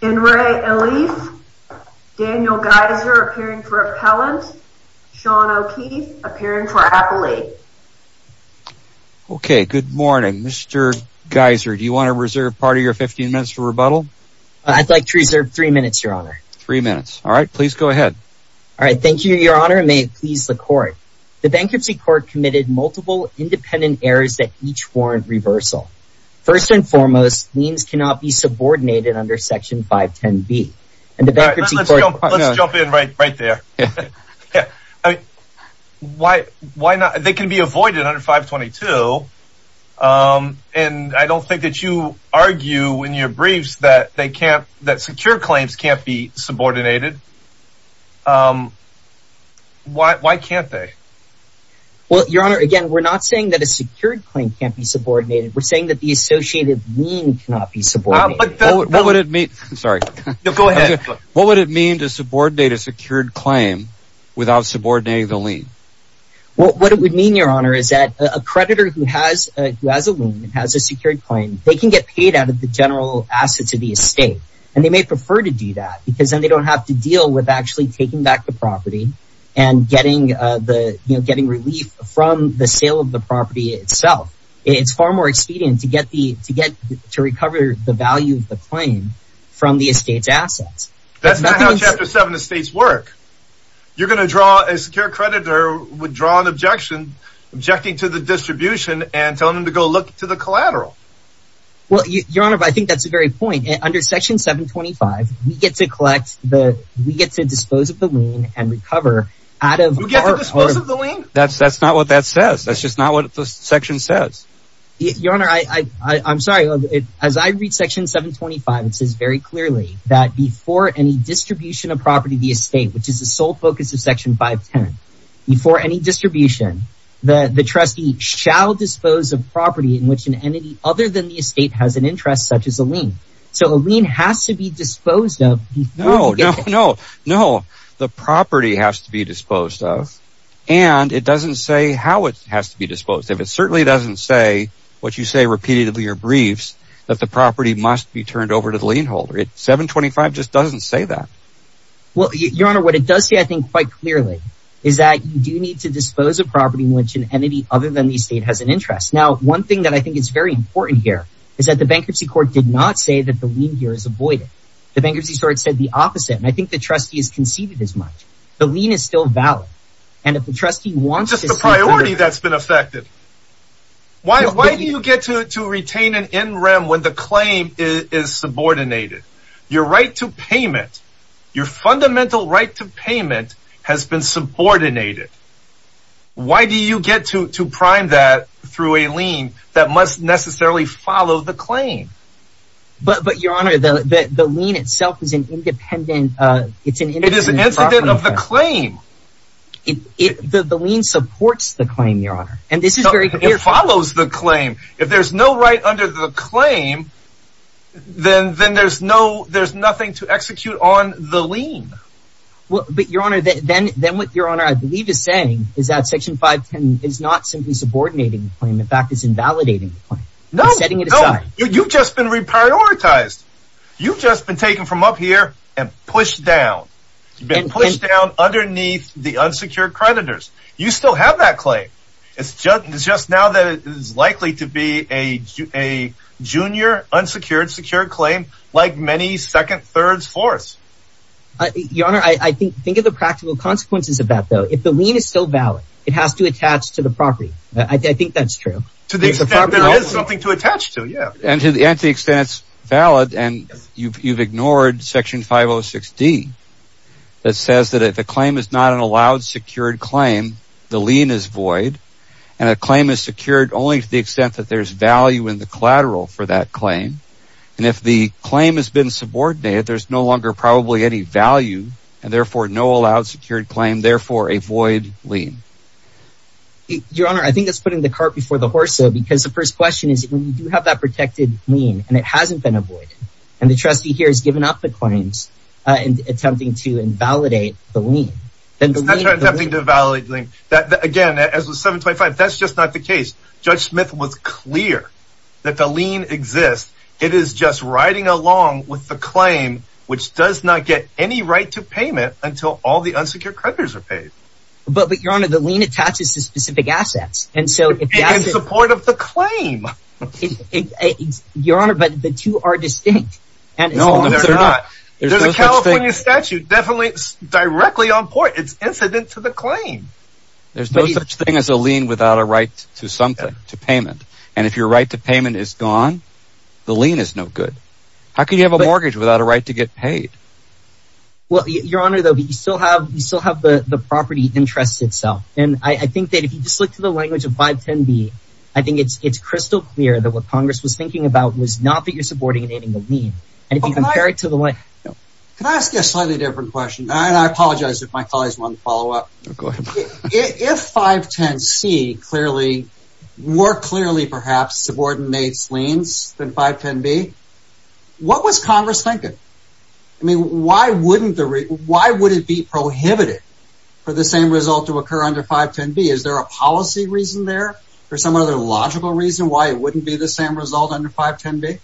Daniel Geiser, appearing for Appellant. Sean O'Keefe, appearing for Appellate. Okay, good morning. Mr. Geiser, do you want to reserve part of your 15 minutes for rebuttal? I'd like to reserve three minutes, Your Honor. Three minutes. All right, please go ahead. All right, thank you, Your Honor, and may it please the Court. The Bankruptcy Court committed multiple independent errors that each warrant reversal. First and foremost, liens cannot be subordinated under Section 510B. Let's jump in right there. They can be avoided under 522, and I don't think that you argue in your briefs that secure claims can't be subordinated. Why can't they? Well, Your Honor, again, we're not saying that a secured claim can't be subordinated. We're saying that the associated lien cannot be subordinated. What would it mean to subordinate a secured claim without subordinating the lien? What it would mean, Your Honor, is that a creditor who has a lien and has a secured claim, they can get paid out of the general assets of the estate, and they may prefer to do that, because then they don't have to deal with actually taking back the property and getting relief from the sale of the property itself. It's far more expedient to recover the value of the claim from the estate's assets. That's not how Chapter 7 estates work. You're going to draw a secured creditor, withdraw an objection, objecting to the distribution and telling them to go look to the collateral. Well, Your Honor, I think that's the very point. Under Section 725, we get to collect the—we get to dispose of the lien and recover out of— You get to dispose of the lien? That's not what that says. That's just not what the section says. Your Honor, I'm sorry. As I read Section 725, it says very clearly that before any distribution of property to the estate, which is the sole focus of Section 510, before any distribution, the trustee shall dispose of property in which an entity other than the estate has an interest such as a lien. So a lien has to be disposed of before— No, no, no, no. The property has to be disposed of, and it doesn't say how it has to be disposed of. It certainly doesn't say what you say repeatedly in your briefs, that the property must be turned over to the lien holder. 725 just doesn't say that. Well, Your Honor, what it does say, I think, quite clearly, is that you do need to dispose of property in which an entity other than the estate has an interest. Now, one thing that I think is very important here is that the Bankruptcy Court did not say that the lien here is avoided. The Bankruptcy Court said the opposite, and I think the trustee has conceded as much. The lien is still valid, and if the trustee wants to— Just the priority that's been affected. Why do you get to retain an NREM when the claim is subordinated? Your right to payment, your fundamental right to payment, has been subordinated. Why do you get to prime that through a lien that must necessarily follow the claim? But, Your Honor, the lien itself is an independent— It is an incident of the claim. The lien supports the claim, Your Honor. It follows the claim. If there's no right under the claim, then there's nothing to execute on the lien. But, Your Honor, then what Your Honor, I believe, is saying is that Section 510 is not simply subordinating the claim. In fact, it's invalidating the claim. It's setting it aside. You've just been reprioritized. You've just been taken from up here and pushed down. You've been pushed down underneath the unsecured creditors. You still have that claim. It's just now that it is likely to be a junior, unsecured, secure claim, like many second, thirds, fourths. Your Honor, I think of the practical consequences of that, though. If the lien is still valid, it has to attach to the property. I think that's true. To the extent there is something to attach to, yeah. And to the extent it's valid, and you've ignored Section 506D that says that if a claim is not an allowed, secured claim, the lien is void. And a claim is secured only to the extent that there's value in the collateral for that claim. And if the claim has been subordinated, there's no longer probably any value. And therefore, no allowed, secured claim. Therefore, a void lien. Your Honor, I think that's putting the cart before the horse, though. Because the first question is, when you do have that protected lien, and it hasn't been avoided, and the trustee here has given up the claims and attempting to invalidate the lien. That's not attempting to invalidate the lien. Again, as with 725, that's just not the case. Judge Smith was clear that the lien exists. It is just riding along with the claim, which does not get any right to payment until all the unsecured creditors are paid. But, Your Honor, the lien attaches to specific assets. In support of the claim. Your Honor, but the two are distinct. No, they're not. There's a California statute directly on point. It's incident to the claim. There's no such thing as a lien without a right to something, to payment. And if your right to payment is gone, the lien is no good. How can you have a mortgage without a right to get paid? Well, Your Honor, though, you still have the property interest itself. And I think that if you just look to the language of 510B, I think it's crystal clear that what Congress was thinking about was not that you're supporting and aiding the lien. Can I ask you a slightly different question? And I apologize if my colleagues want to follow up. If 510C clearly, more clearly, perhaps, subordinates liens than 510B, what was Congress thinking? I mean, why would it be prohibited for the same result to occur under 510B? Is there a policy reason there or some other logical reason why it wouldn't be the same result under 510B?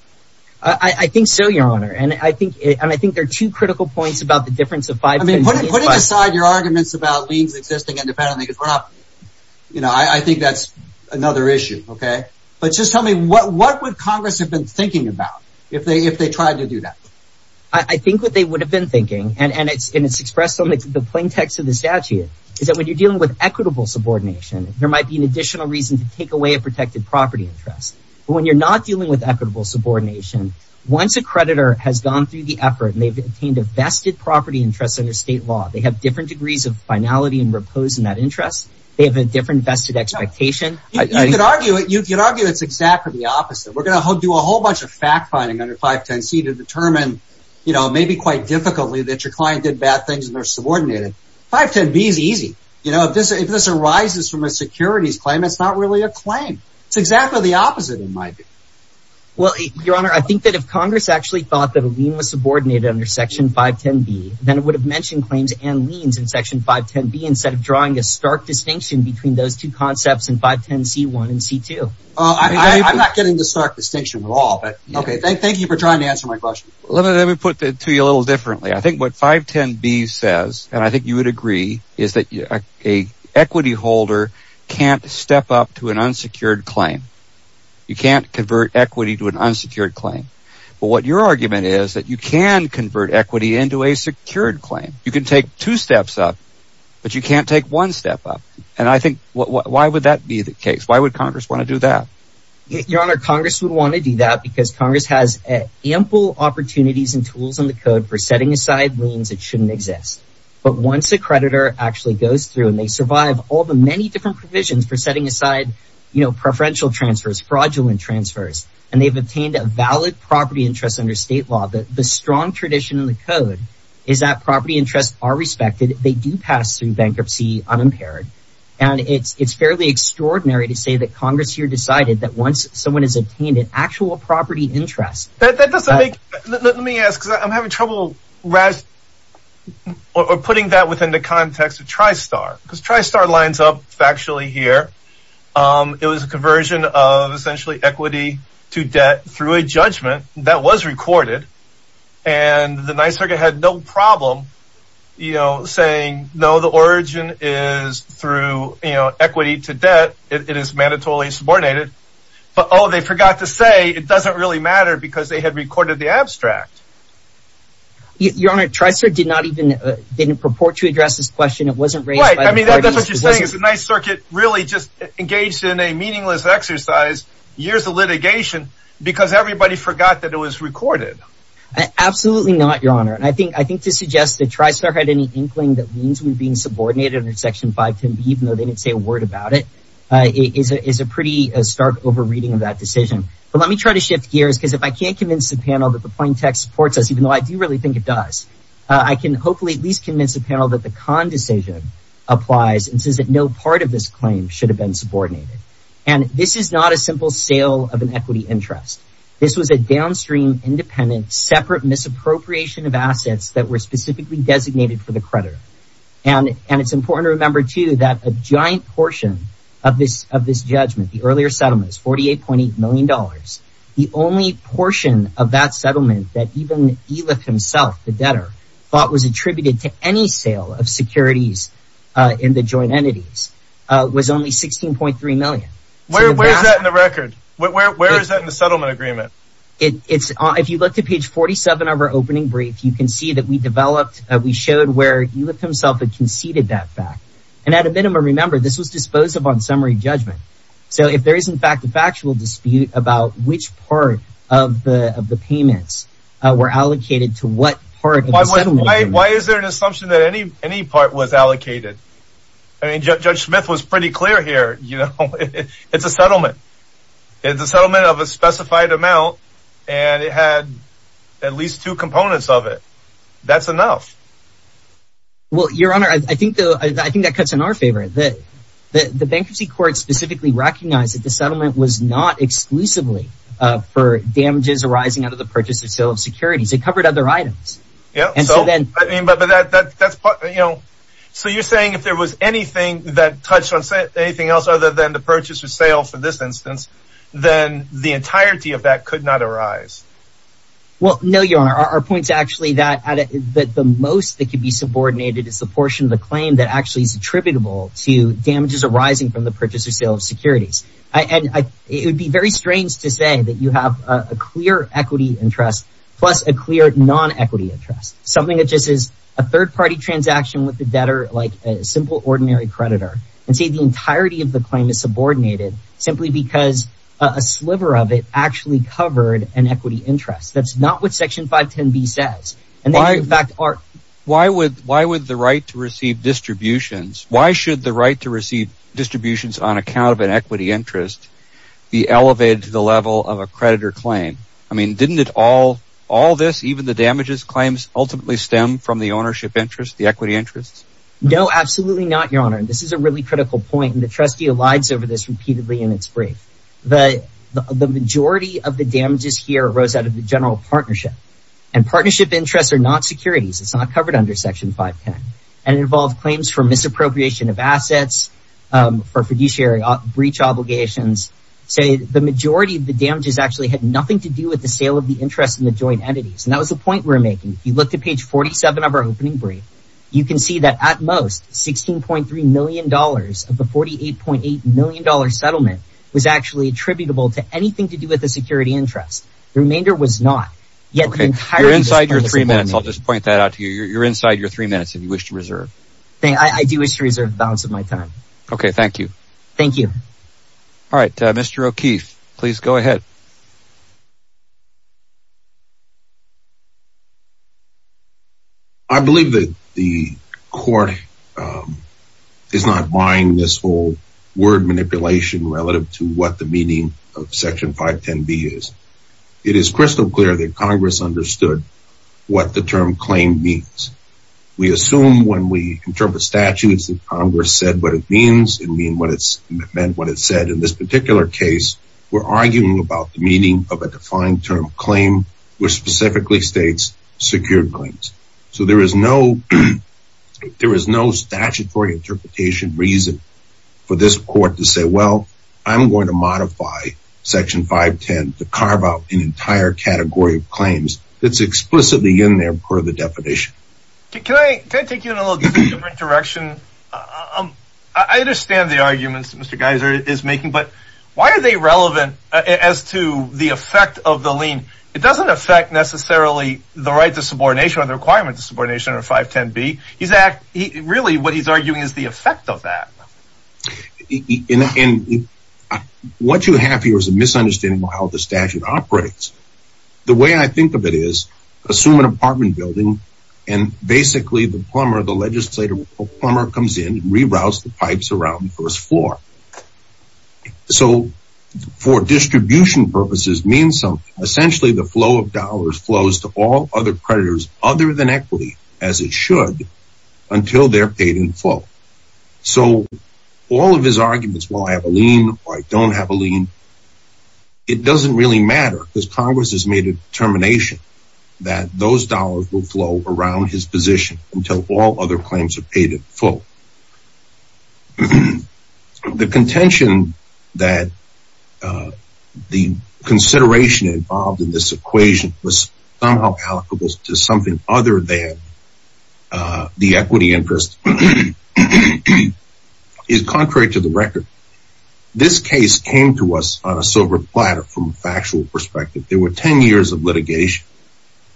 I think so, Your Honor. And I think there are two critical points about the difference of 510B and 510B. I mean, putting aside your arguments about liens existing independently, I think that's another issue, okay? But just tell me, what would Congress have been thinking about if they tried to do that? I think what they would have been thinking, and it's expressed on the plain text of the statute, is that when you're dealing with equitable subordination, there might be an additional reason to take away a protected property interest. But when you're not dealing with equitable subordination, once a creditor has gone through the effort and they've obtained a vested property interest under state law, they have different degrees of finality and repose in that interest. They have a different vested expectation. You could argue it's exactly the opposite. We're going to do a whole bunch of fact-finding under 510C to determine, maybe quite difficultly, that your client did bad things and they're subordinated. 510B is easy. If this arises from a securities claim, it's not really a claim. It's exactly the opposite, in my view. Your Honor, I think that if Congress actually thought that a lien was subordinated under Section 510B, then it would have mentioned claims and liens in Section 510B instead of drawing a stark distinction between those two concepts in 510C1 and 510C2. I'm not getting the stark distinction at all. Thank you for trying to answer my question. Let me put it to you a little differently. I think what 510B says, and I think you would agree, is that an equity holder can't step up to an unsecured claim. You can't convert equity to an unsecured claim. But what your argument is that you can convert equity into a secured claim. You can take two steps up, but you can't take one step up. And I think, why would that be the case? Why would Congress want to do that? Your Honor, Congress would want to do that because Congress has ample opportunities and tools in the code for setting aside liens that shouldn't exist. But once a creditor actually goes through and they survive all the many different provisions for setting aside preferential transfers, fraudulent transfers, and they've obtained a valid property interest under state law, the strong tradition in the code is that property interests are respected. They do pass through bankruptcy unimpaired. And it's fairly extraordinary to say that Congress here decided that once someone has obtained an actual property interest... Let me ask, because I'm having trouble putting that within the context of TriStar. Because TriStar lines up factually here. It was a conversion of essentially equity to debt through a judgment that was recorded. And the Ninth Circuit had no problem saying, no, the origin is through equity to debt. It is mandatorily subordinated. But, oh, they forgot to say it doesn't really matter because they had recorded the abstract. Your Honor, TriStar did not even purport to address this question. It wasn't raised by the parties. The Ninth Circuit really just engaged in a meaningless exercise, years of litigation, because everybody forgot that it was recorded. Absolutely not, Your Honor. And I think to suggest that TriStar had any inkling that means we're being subordinated under Section 510, even though they didn't say a word about it, is a pretty stark over-reading of that decision. But let me try to shift gears, because if I can't convince the panel that the plaintext supports us, even though I do really think it does, I can hopefully at least convince the panel that the Kahn decision applies and says that no part of this claim should have been subordinated. And this is not a simple sale of an equity interest. This was a downstream, independent, separate misappropriation of assets that were specifically designated for the creditor. And it's important to remember, too, that a giant portion of this judgment, the earlier settlement, $48.8 million, the only portion of that settlement that even Eliph himself, the debtor, thought was attributed to any sale of securities in the joint entities, was only $16.3 million. Where is that in the record? Where is that in the settlement agreement? If you look to page 47 of our opening brief, you can see that we showed where Eliph himself had conceded that fact. And at a minimum, remember, this was dispositive on summary judgment. So if there is, in fact, a factual dispute about which part of the payments were allocated to what part of the settlement agreement. Why is there an assumption that any part was allocated? I mean, Judge Smith was pretty clear here. It's a settlement. It's a settlement of a specified amount, and it had at least two components of it. That's enough. Well, Your Honor, I think that cuts in our favor. The bankruptcy court specifically recognized that the settlement was not exclusively for damages arising out of the purchase or sale of securities. It covered other items. So you're saying if there was anything that touched on anything else other than the purchase or sale for this instance, then the entirety of that could not arise. Well, no, Your Honor. Our point is actually that the most that could be subordinated is the portion of the claim that actually is attributable to damages arising from the purchase or sale of securities. And it would be very strange to say that you have a clear equity interest plus a clear non-equity interest, something that just is a third-party transaction with the debtor like a simple ordinary creditor, and say the entirety of the claim is subordinated simply because a sliver of it actually covered an equity interest. That's not what Section 510B says. Why would the right to receive distributions, why should the right to receive distributions on account of an equity interest be elevated to the level of a creditor claim? I mean, didn't all this, even the damages claims, ultimately stem from the ownership interest, the equity interest? No, absolutely not, Your Honor. This is a really critical point, and the trustee elides over this repeatedly in its brief. The majority of the damages here arose out of the general partnership. And partnership interests are not securities. It's not covered under Section 510. And it involved claims for misappropriation of assets, for fiduciary breach obligations. So the majority of the damages actually had nothing to do with the sale of the interest in the joint entities. And that was the point we were making. If you look to page 47 of our opening brief, you can see that at most $16.3 million of the $48.8 million settlement was actually attributable to anything to do with the security interest. The remainder was not. You're inside your three minutes. I'll just point that out to you. You're inside your three minutes if you wish to reserve. I do wish to reserve the balance of my time. Okay, thank you. Thank you. All right, Mr. O'Keefe, please go ahead. I believe that the Court is not buying this whole word manipulation relative to what the meaning of Section 510B is. It is crystal clear that Congress understood what the term claim means. We assume when we interpret statutes that Congress said what it means and meant what it said. In this particular case, we're arguing about the meaning of a defined term claim, which specifically states secured claims. So there is no statutory interpretation reason for this Court to say, well, I'm going to modify Section 510 to carve out an entire category of claims that's explicitly in there per the definition. Can I take you in a little different direction? I understand the arguments that Mr. Geiser is making, but why are they relevant as to the effect of the lien? It doesn't affect necessarily the right to subordination or the requirement to subordination under 510B. Really, what he's arguing is the effect of that. And what you have here is a misunderstanding of how the statute operates. The way I think of it is assume an apartment building and basically the legislator or plumber comes in and reroutes the pipes around the first floor. So for distribution purposes, it means essentially the flow of dollars flows to all other creditors other than equity, as it should, until they're paid in full. So all of his arguments, well, I have a lien or I don't have a lien, it doesn't really matter because Congress has made a determination that those dollars will flow around his position until all other claims are paid in full. The contention that the consideration involved in this equation was somehow applicable to something other than the equity interest is contrary to the record. This case came to us on a silver platter from a factual perspective. There were 10 years of litigation.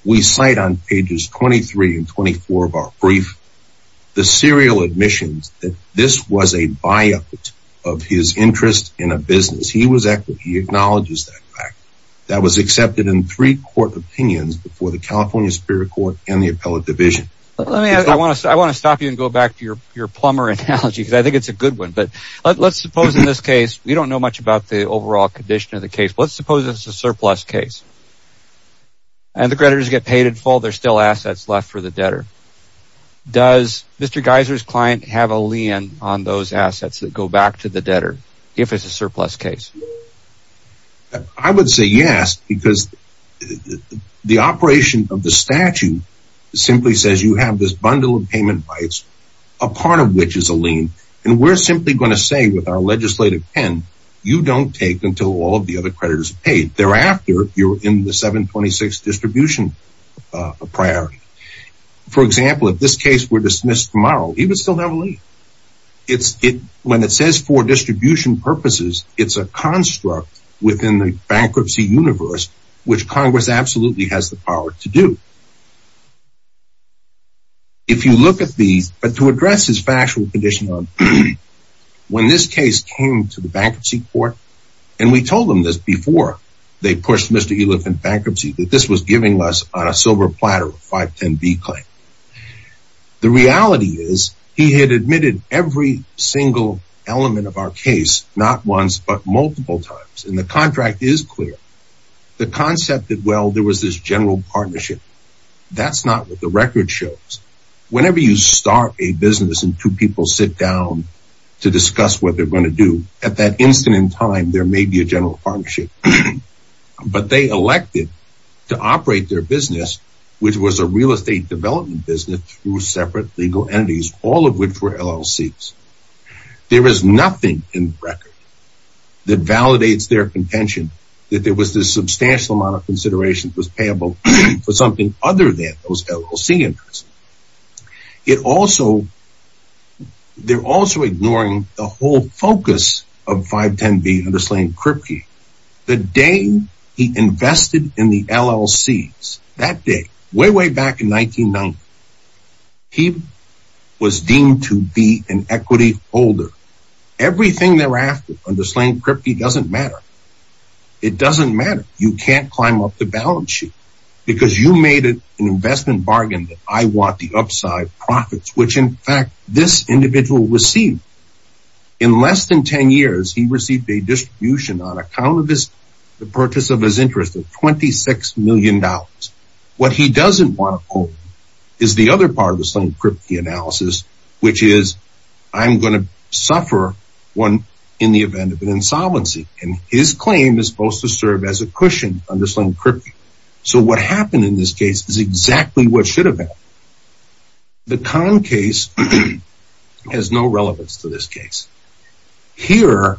We cite on pages 23 and 24 of our brief the serial admissions that this was a buyout of his interest in a business. He was equity, he acknowledges that fact. That was accepted in three court opinions before the California Superior Court and the Appellate Division. I want to stop you and go back to your plumber analogy because I think it's a good one. But let's suppose in this case, we don't know much about the overall condition of the case. Let's suppose it's a surplus case and the creditors get paid in full, there's still assets left for the debtor. Does Mr. Geiser's client have a lien on those assets that go back to the debtor if it's a surplus case? I would say yes because the operation of the statute simply says you have this bundle of payment rights, a part of which is a lien, and we're simply going to say with our legislative pen, you don't take until all of the other creditors are paid. Thereafter, you're in the 726 distribution priority. For example, if this case were dismissed tomorrow, he would still have a lien. When it says for distribution purposes, it's a construct within the bankruptcy universe, which Congress absolutely has the power to do. If you look at these, but to address his factual condition, when this case came to the Bankruptcy Court, and we told them this before they pushed Mr. Eliff in bankruptcy, that this was giving less on a silver platter, a 510B claim. The reality is he had admitted every single element of our case, not once but multiple times, and the contract is clear. The concept that, well, there was this general partnership, that's not what the record shows. Whenever you start a business and two people sit down to discuss what they're going to do, at that instant in time, there may be a general partnership. But they elected to operate their business, which was a real estate development business, through separate legal entities, all of which were LLCs. There is nothing in the record that validates their contention that there was this substantial amount of consideration that was payable for something other than those LLC interests. They're also ignoring the whole focus of 510B under Slane Kripke. The day he invested in the LLCs, that day, way, way back in 1990, he was deemed to be an equity holder. Everything thereafter under Slane Kripke doesn't matter. It doesn't matter. You can't climb up the balance sheet. Because you made an investment bargain that I want the upside profits, which, in fact, this individual received. In less than 10 years, he received a distribution on account of the purchase of his interest of $26 million. What he doesn't want to own is the other part of the Slane Kripke analysis, which is, I'm going to suffer in the event of an insolvency. And his claim is supposed to serve as a cushion under Slane Kripke. So what happened in this case is exactly what should have happened. The Conn case has no relevance to this case. Here,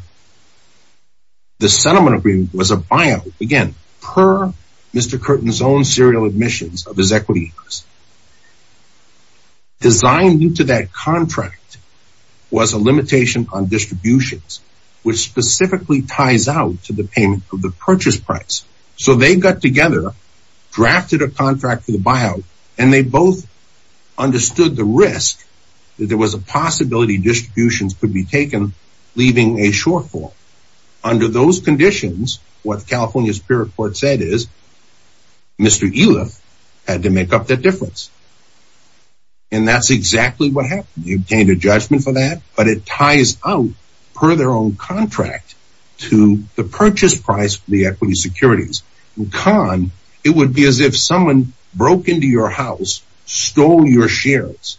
the settlement agreement was a buyout, again, per Mr. Curtin's own serial admissions of his equity interest. Designed into that contract was a limitation on distributions, which specifically ties out to the payment of the purchase price. So they got together, drafted a contract for the buyout, and they both understood the risk that there was a possibility distributions could be taken, leaving a shortfall. Under those conditions, what California spirit court said is Mr. Eliff had to make up that difference. And that's exactly what happened. He obtained a judgment for that, but it ties out per their own contract to the purchase price, the equity securities. And Conn, it would be as if someone broke into your house, stole your shares,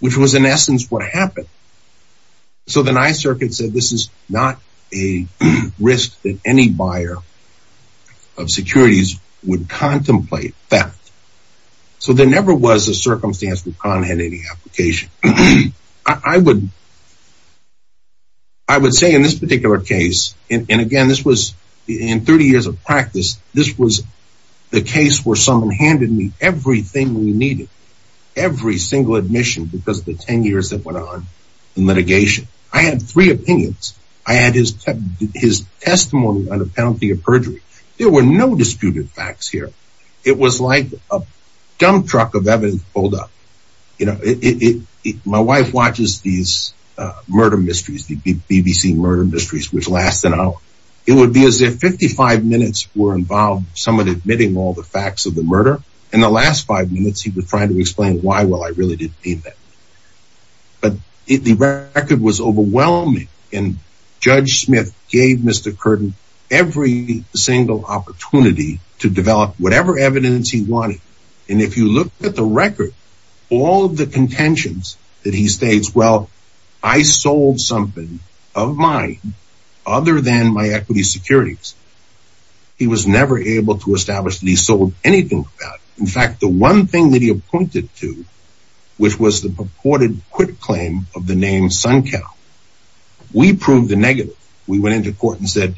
which was in essence what happened. So the Nye circuit said this is not a risk that any buyer of securities would contemplate that. So there never was a circumstance where Conn had any application. I would say in this particular case, and again, this was in 30 years of practice, this was the case where someone handed me everything we needed, every single admission because of the 10 years that went on in litigation. I had three opinions. I had his testimony on the penalty of perjury. There were no disputed facts here. It was like a dump truck of evidence pulled up. You know, my wife watches these murder mysteries, the BBC murder mysteries, which last an hour. It would be as if 55 minutes were involved. Someone admitting all the facts of the murder in the last five minutes. He was trying to explain why. Well, I really didn't mean that. But the record was overwhelming. And Judge Smith gave Mr. Curtin every single opportunity to develop whatever evidence he wanted. And if you look at the record, all of the contentions that he states, well, I sold something of mine other than my equity securities. He was never able to establish that he sold anything. In fact, the one thing that he appointed to, which was the purported quick claim of the name Sunkel. We proved the negative. We went into court and said,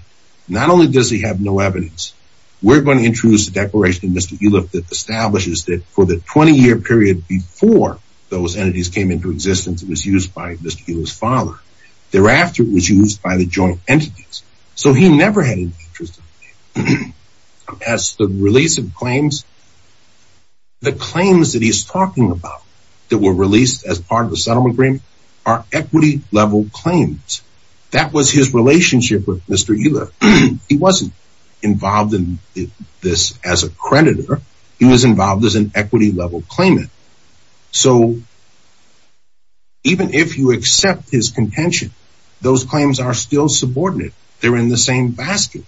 not only does he have no evidence, we're going to introduce a declaration in Mr. Uliff that establishes that for the 20 year period before those entities came into existence, it was used by Mr. Uliff's father. Thereafter, it was used by the joint entities. So he never had an interest as the release of claims. The claims that he's talking about that were released as part of the settlement agreement are equity level claims. That was his relationship with Mr. Uliff. He wasn't involved in this as a creditor. He was involved as an equity level claimant. So even if you accept his contention, those claims are still subordinate. They're in the same basket.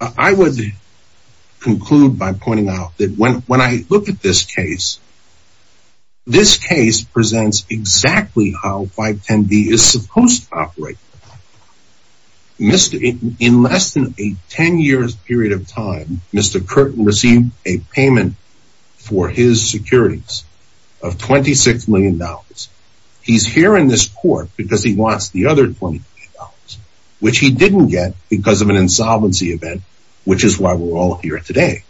I would conclude by pointing out that when I look at this case, this case presents exactly how 510B is supposed to operate. In less than a 10 year period of time, Mr. Curtin received a payment for his securities of $26 million. He's here in this court because he wants the other $20 million, which he didn't get because of an insolvency event, which is why we're all here today.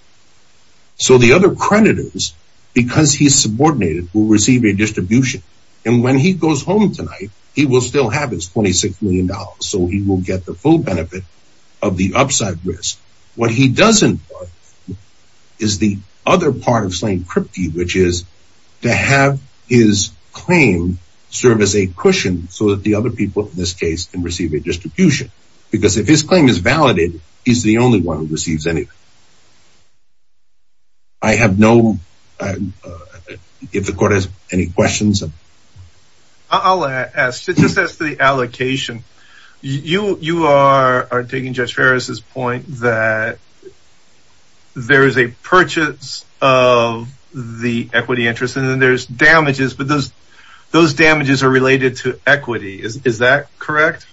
So the other creditors, because he's subordinated, will receive a distribution. And when he goes home tonight, he will still have his $26 million. So he will get the full benefit of the upside risk. What he doesn't want is the other part of slaying Kripke, which is to have his claim serve as a cushion so that the other people in this case can receive a distribution. Because if his claim is validated, he's the only one who receives anything. I have no, if the court has any questions. I'll ask, just ask the allocation. You are taking Judge Farris's point that there is a purchase of the equity interest and then there's damages. But those those damages are related to equity. Is that correct?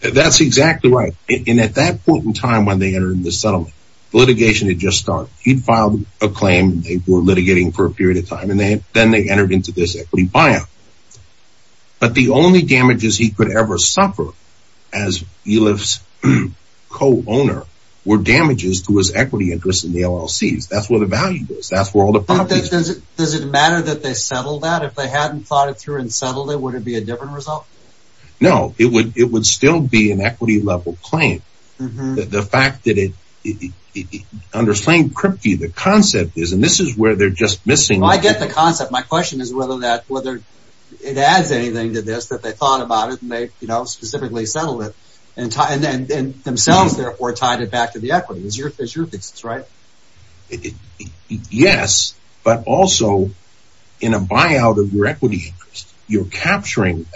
That's exactly right. And at that point in time, when they entered the settlement, the litigation had just started. He'd filed a claim. They were litigating for a period of time, and then they entered into this equity buyout. But the only damages he could ever suffer as Eliff's co-owner were damages to his equity interest in the LLCs. That's where the value is. That's where all the properties are. Does it matter that they settled that? If they hadn't thought it through and settled it, would it be a different result? No, it would still be an equity level claim. The fact that it, under Slane Kripke, the concept is, and this is where they're just missing. I get the concept. My question is whether that, whether it adds anything to this, that they thought about it and they, you know, specifically settled it. And then themselves, therefore, tied it back to the equity. Is your thesis right? Yes, but also in a buyout of your equity interest. You're capturing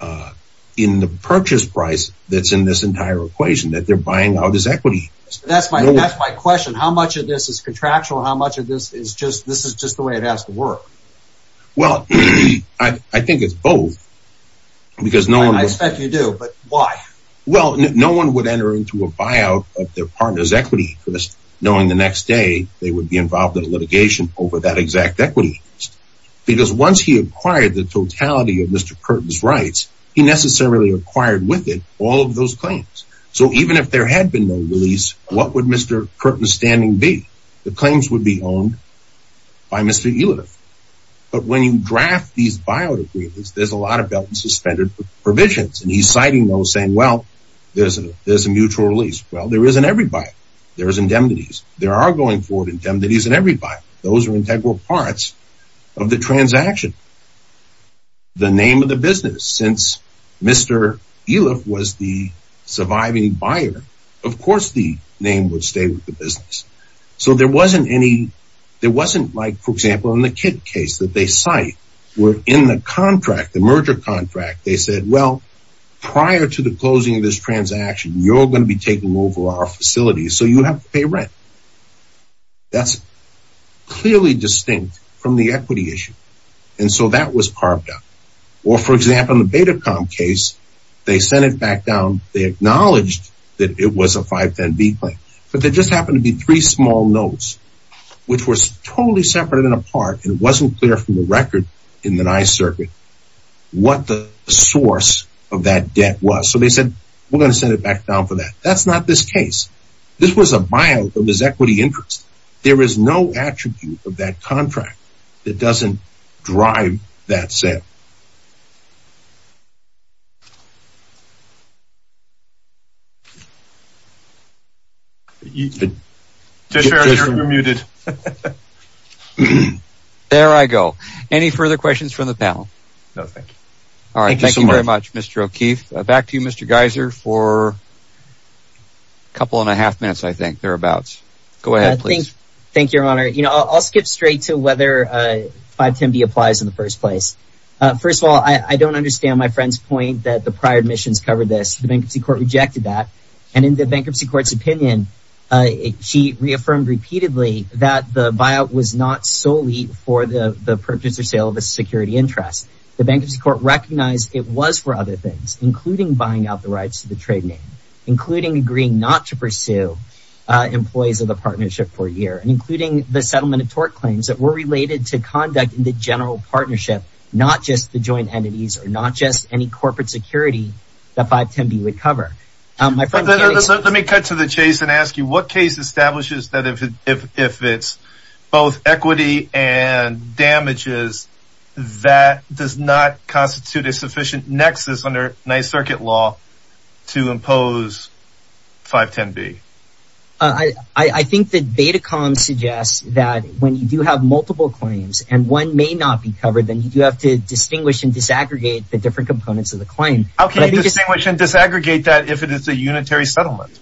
that in the purchase price that's in this entire equation, that they're buying out his equity. That's my question. How much of this is contractual? How much of this is just, this is just the way it has to work? Well, I think it's both. I expect you do, but why? Well, no one would enter into a buyout of their partner's equity interest knowing the next day they would be involved in litigation over that exact equity interest. Because once he acquired the totality of Mr. Curtin's rights, he necessarily acquired with it all of those claims. So even if there had been no release, what would Mr. Curtin's standing be? The claims would be owned by Mr. Eliff. But when you draft these buyout agreements, there's a lot of belt and suspended provisions. And he's citing those saying, well, there's a, there's a mutual release. Well, there is in everybody. There is indemnities. There are going forward indemnities in everybody. Those are integral parts of the transaction. The name of the business, since Mr. Eliff was the surviving buyer, of course, the name would stay with the business. So there wasn't any, there wasn't like, for example, in the kid case that they cite were in the contract, the merger contract. They said, well, prior to the closing of this transaction, you're going to be taking over our facility. So you have to pay rent. That's clearly distinct from the equity issue. And so that was carved out. Or, for example, in the Betacom case, they sent it back down. They acknowledged that it was a 510B claim. But there just happened to be three small notes, which were totally separate and apart. And it wasn't clear from the record in the nice circuit what the source of that debt was. So they said, we're going to send it back down for that. That's not this case. This was a buyout of his equity interest. There is no attribute of that contract that doesn't drive that sale. There I go. Any further questions from the panel? No, thank you. All right. Thank you very much, Mr. O'Keefe. Back to you, Mr. Geiser, for a couple and a half minutes, I think, thereabouts. Go ahead, please. Thank you, Your Honor. I'll skip straight to whether 510B applies in the first place. First of all, I don't understand my friend's point that the prior admissions covered this. The Bankruptcy Court rejected that. And in the Bankruptcy Court's opinion, she reaffirmed repeatedly that the buyout was not solely for the purchase or sale of a security interest. The Bankruptcy Court recognized it was for other things, including buying out the rights to the trade name, including agreeing not to pursue employees of the partnership for a year, and including the settlement of tort claims that were related to conduct in the general partnership, not just the joint entities or not just any corporate security that 510B would cover. Let me cut to the chase and ask you, what case establishes that if it's both equity and damages, that does not constitute a sufficient nexus under Ninth Circuit law to impose 510B? I think the data column suggests that when you do have multiple claims and one may not be covered, then you have to distinguish and disaggregate the different components of the claim. How can you distinguish and disaggregate that if it is a unitary settlement?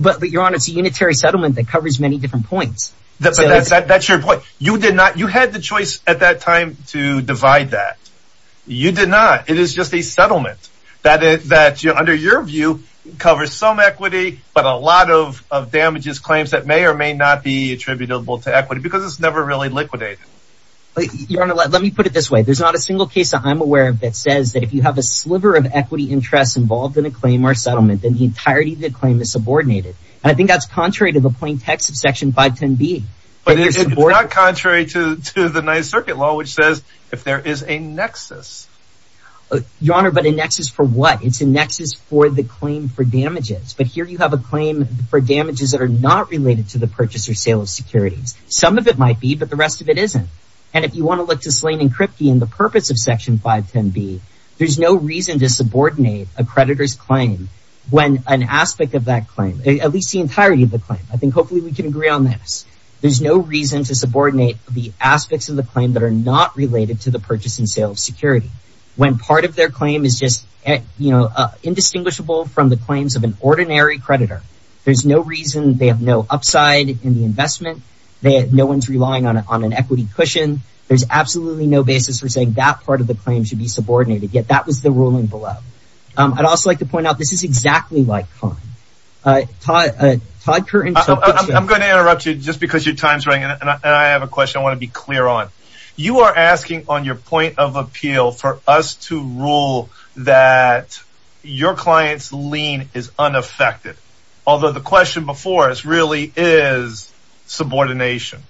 But Your Honor, it's a unitary settlement that covers many different points. That's your point. You had the choice at that time to divide that. You did not. It is just a settlement that under your view covers some equity, but a lot of damages claims that may or may not be attributable to equity because it's never really liquidated. Your Honor, let me put it this way. There's not a single case that I'm aware of that says that if you have a sliver of equity interests involved in a claim or settlement, then the entirety of the claim is subordinated. And I think that's contrary to the plain text of Section 510B. But it's not contrary to the Ninth Circuit law, which says if there is a nexus. Your Honor, but a nexus for what? It's a nexus for the claim for damages. But here you have a claim for damages that are not related to the purchase or sale of securities. Some of it might be, but the rest of it isn't. And if you want to look to Slane and Kripke and the purpose of Section 510B, there's no reason to subordinate a creditor's claim when an aspect of that claim, at least the entirety of the claim, I think hopefully we can agree on this. There's no reason to subordinate the aspects of the claim that are not related to the purchase and sale of security. When part of their claim is just indistinguishable from the claims of an ordinary creditor, there's no reason, they have no upside in the investment. No one's relying on an equity cushion. There's absolutely no basis for saying that part of the claim should be subordinated. Yet that was the ruling below. I'd also like to point out, this is exactly like Conn. Todd, Todd Curtin. I'm going to interrupt you just because your time's running. And I have a question I want to be clear on. You are asking on your point of appeal for us to rule that your client's lien is unaffected. Although the question before us really is subordination.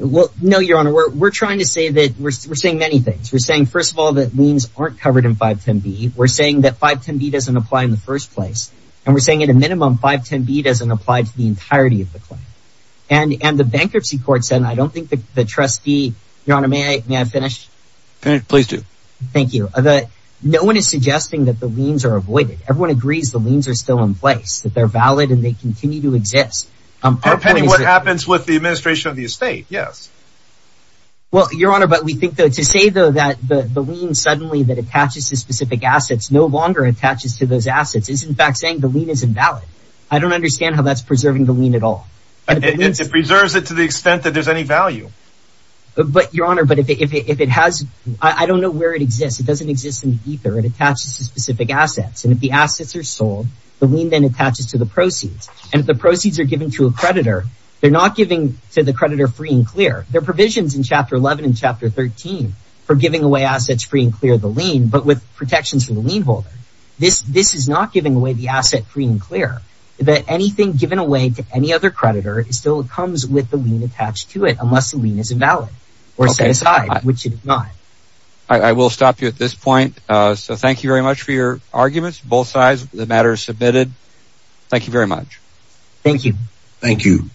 No, Your Honor, we're trying to say that we're saying many things. We're saying, first of all, that liens aren't covered in 510B. We're saying that 510B doesn't apply in the first place. And we're saying, at a minimum, 510B doesn't apply to the entirety of the claim. And the bankruptcy court said, and I don't think the trustee, Your Honor, may I finish? Please do. Thank you. No one is suggesting that the liens are avoided. Everyone agrees the liens are still in place. That they're valid and they continue to exist. Depending what happens with the administration of the estate, yes. Well, Your Honor, but we think that to say, though, that the lien suddenly that attaches to specific assets no longer attaches to those assets is, in fact, saying the lien is invalid. I don't understand how that's preserving the lien at all. It preserves it to the extent that there's any value. But, Your Honor, but if it has, I don't know where it exists. It doesn't exist in the ether. It attaches to specific assets. And if the assets are sold, the lien then attaches to the proceeds. And if the proceeds are given to a creditor, they're not giving to the creditor free and clear. There are provisions in Chapter 11 and Chapter 13 for giving away assets free and clear of the lien, but with protections for the lien holder. This is not giving away the asset free and clear. Anything given away to any other creditor still comes with the lien attached to it unless the lien is invalid or set aside, which it is not. I will stop you at this point. So thank you very much for your arguments, both sides. The matter is submitted. Thank you very much. Thank you. Thank you.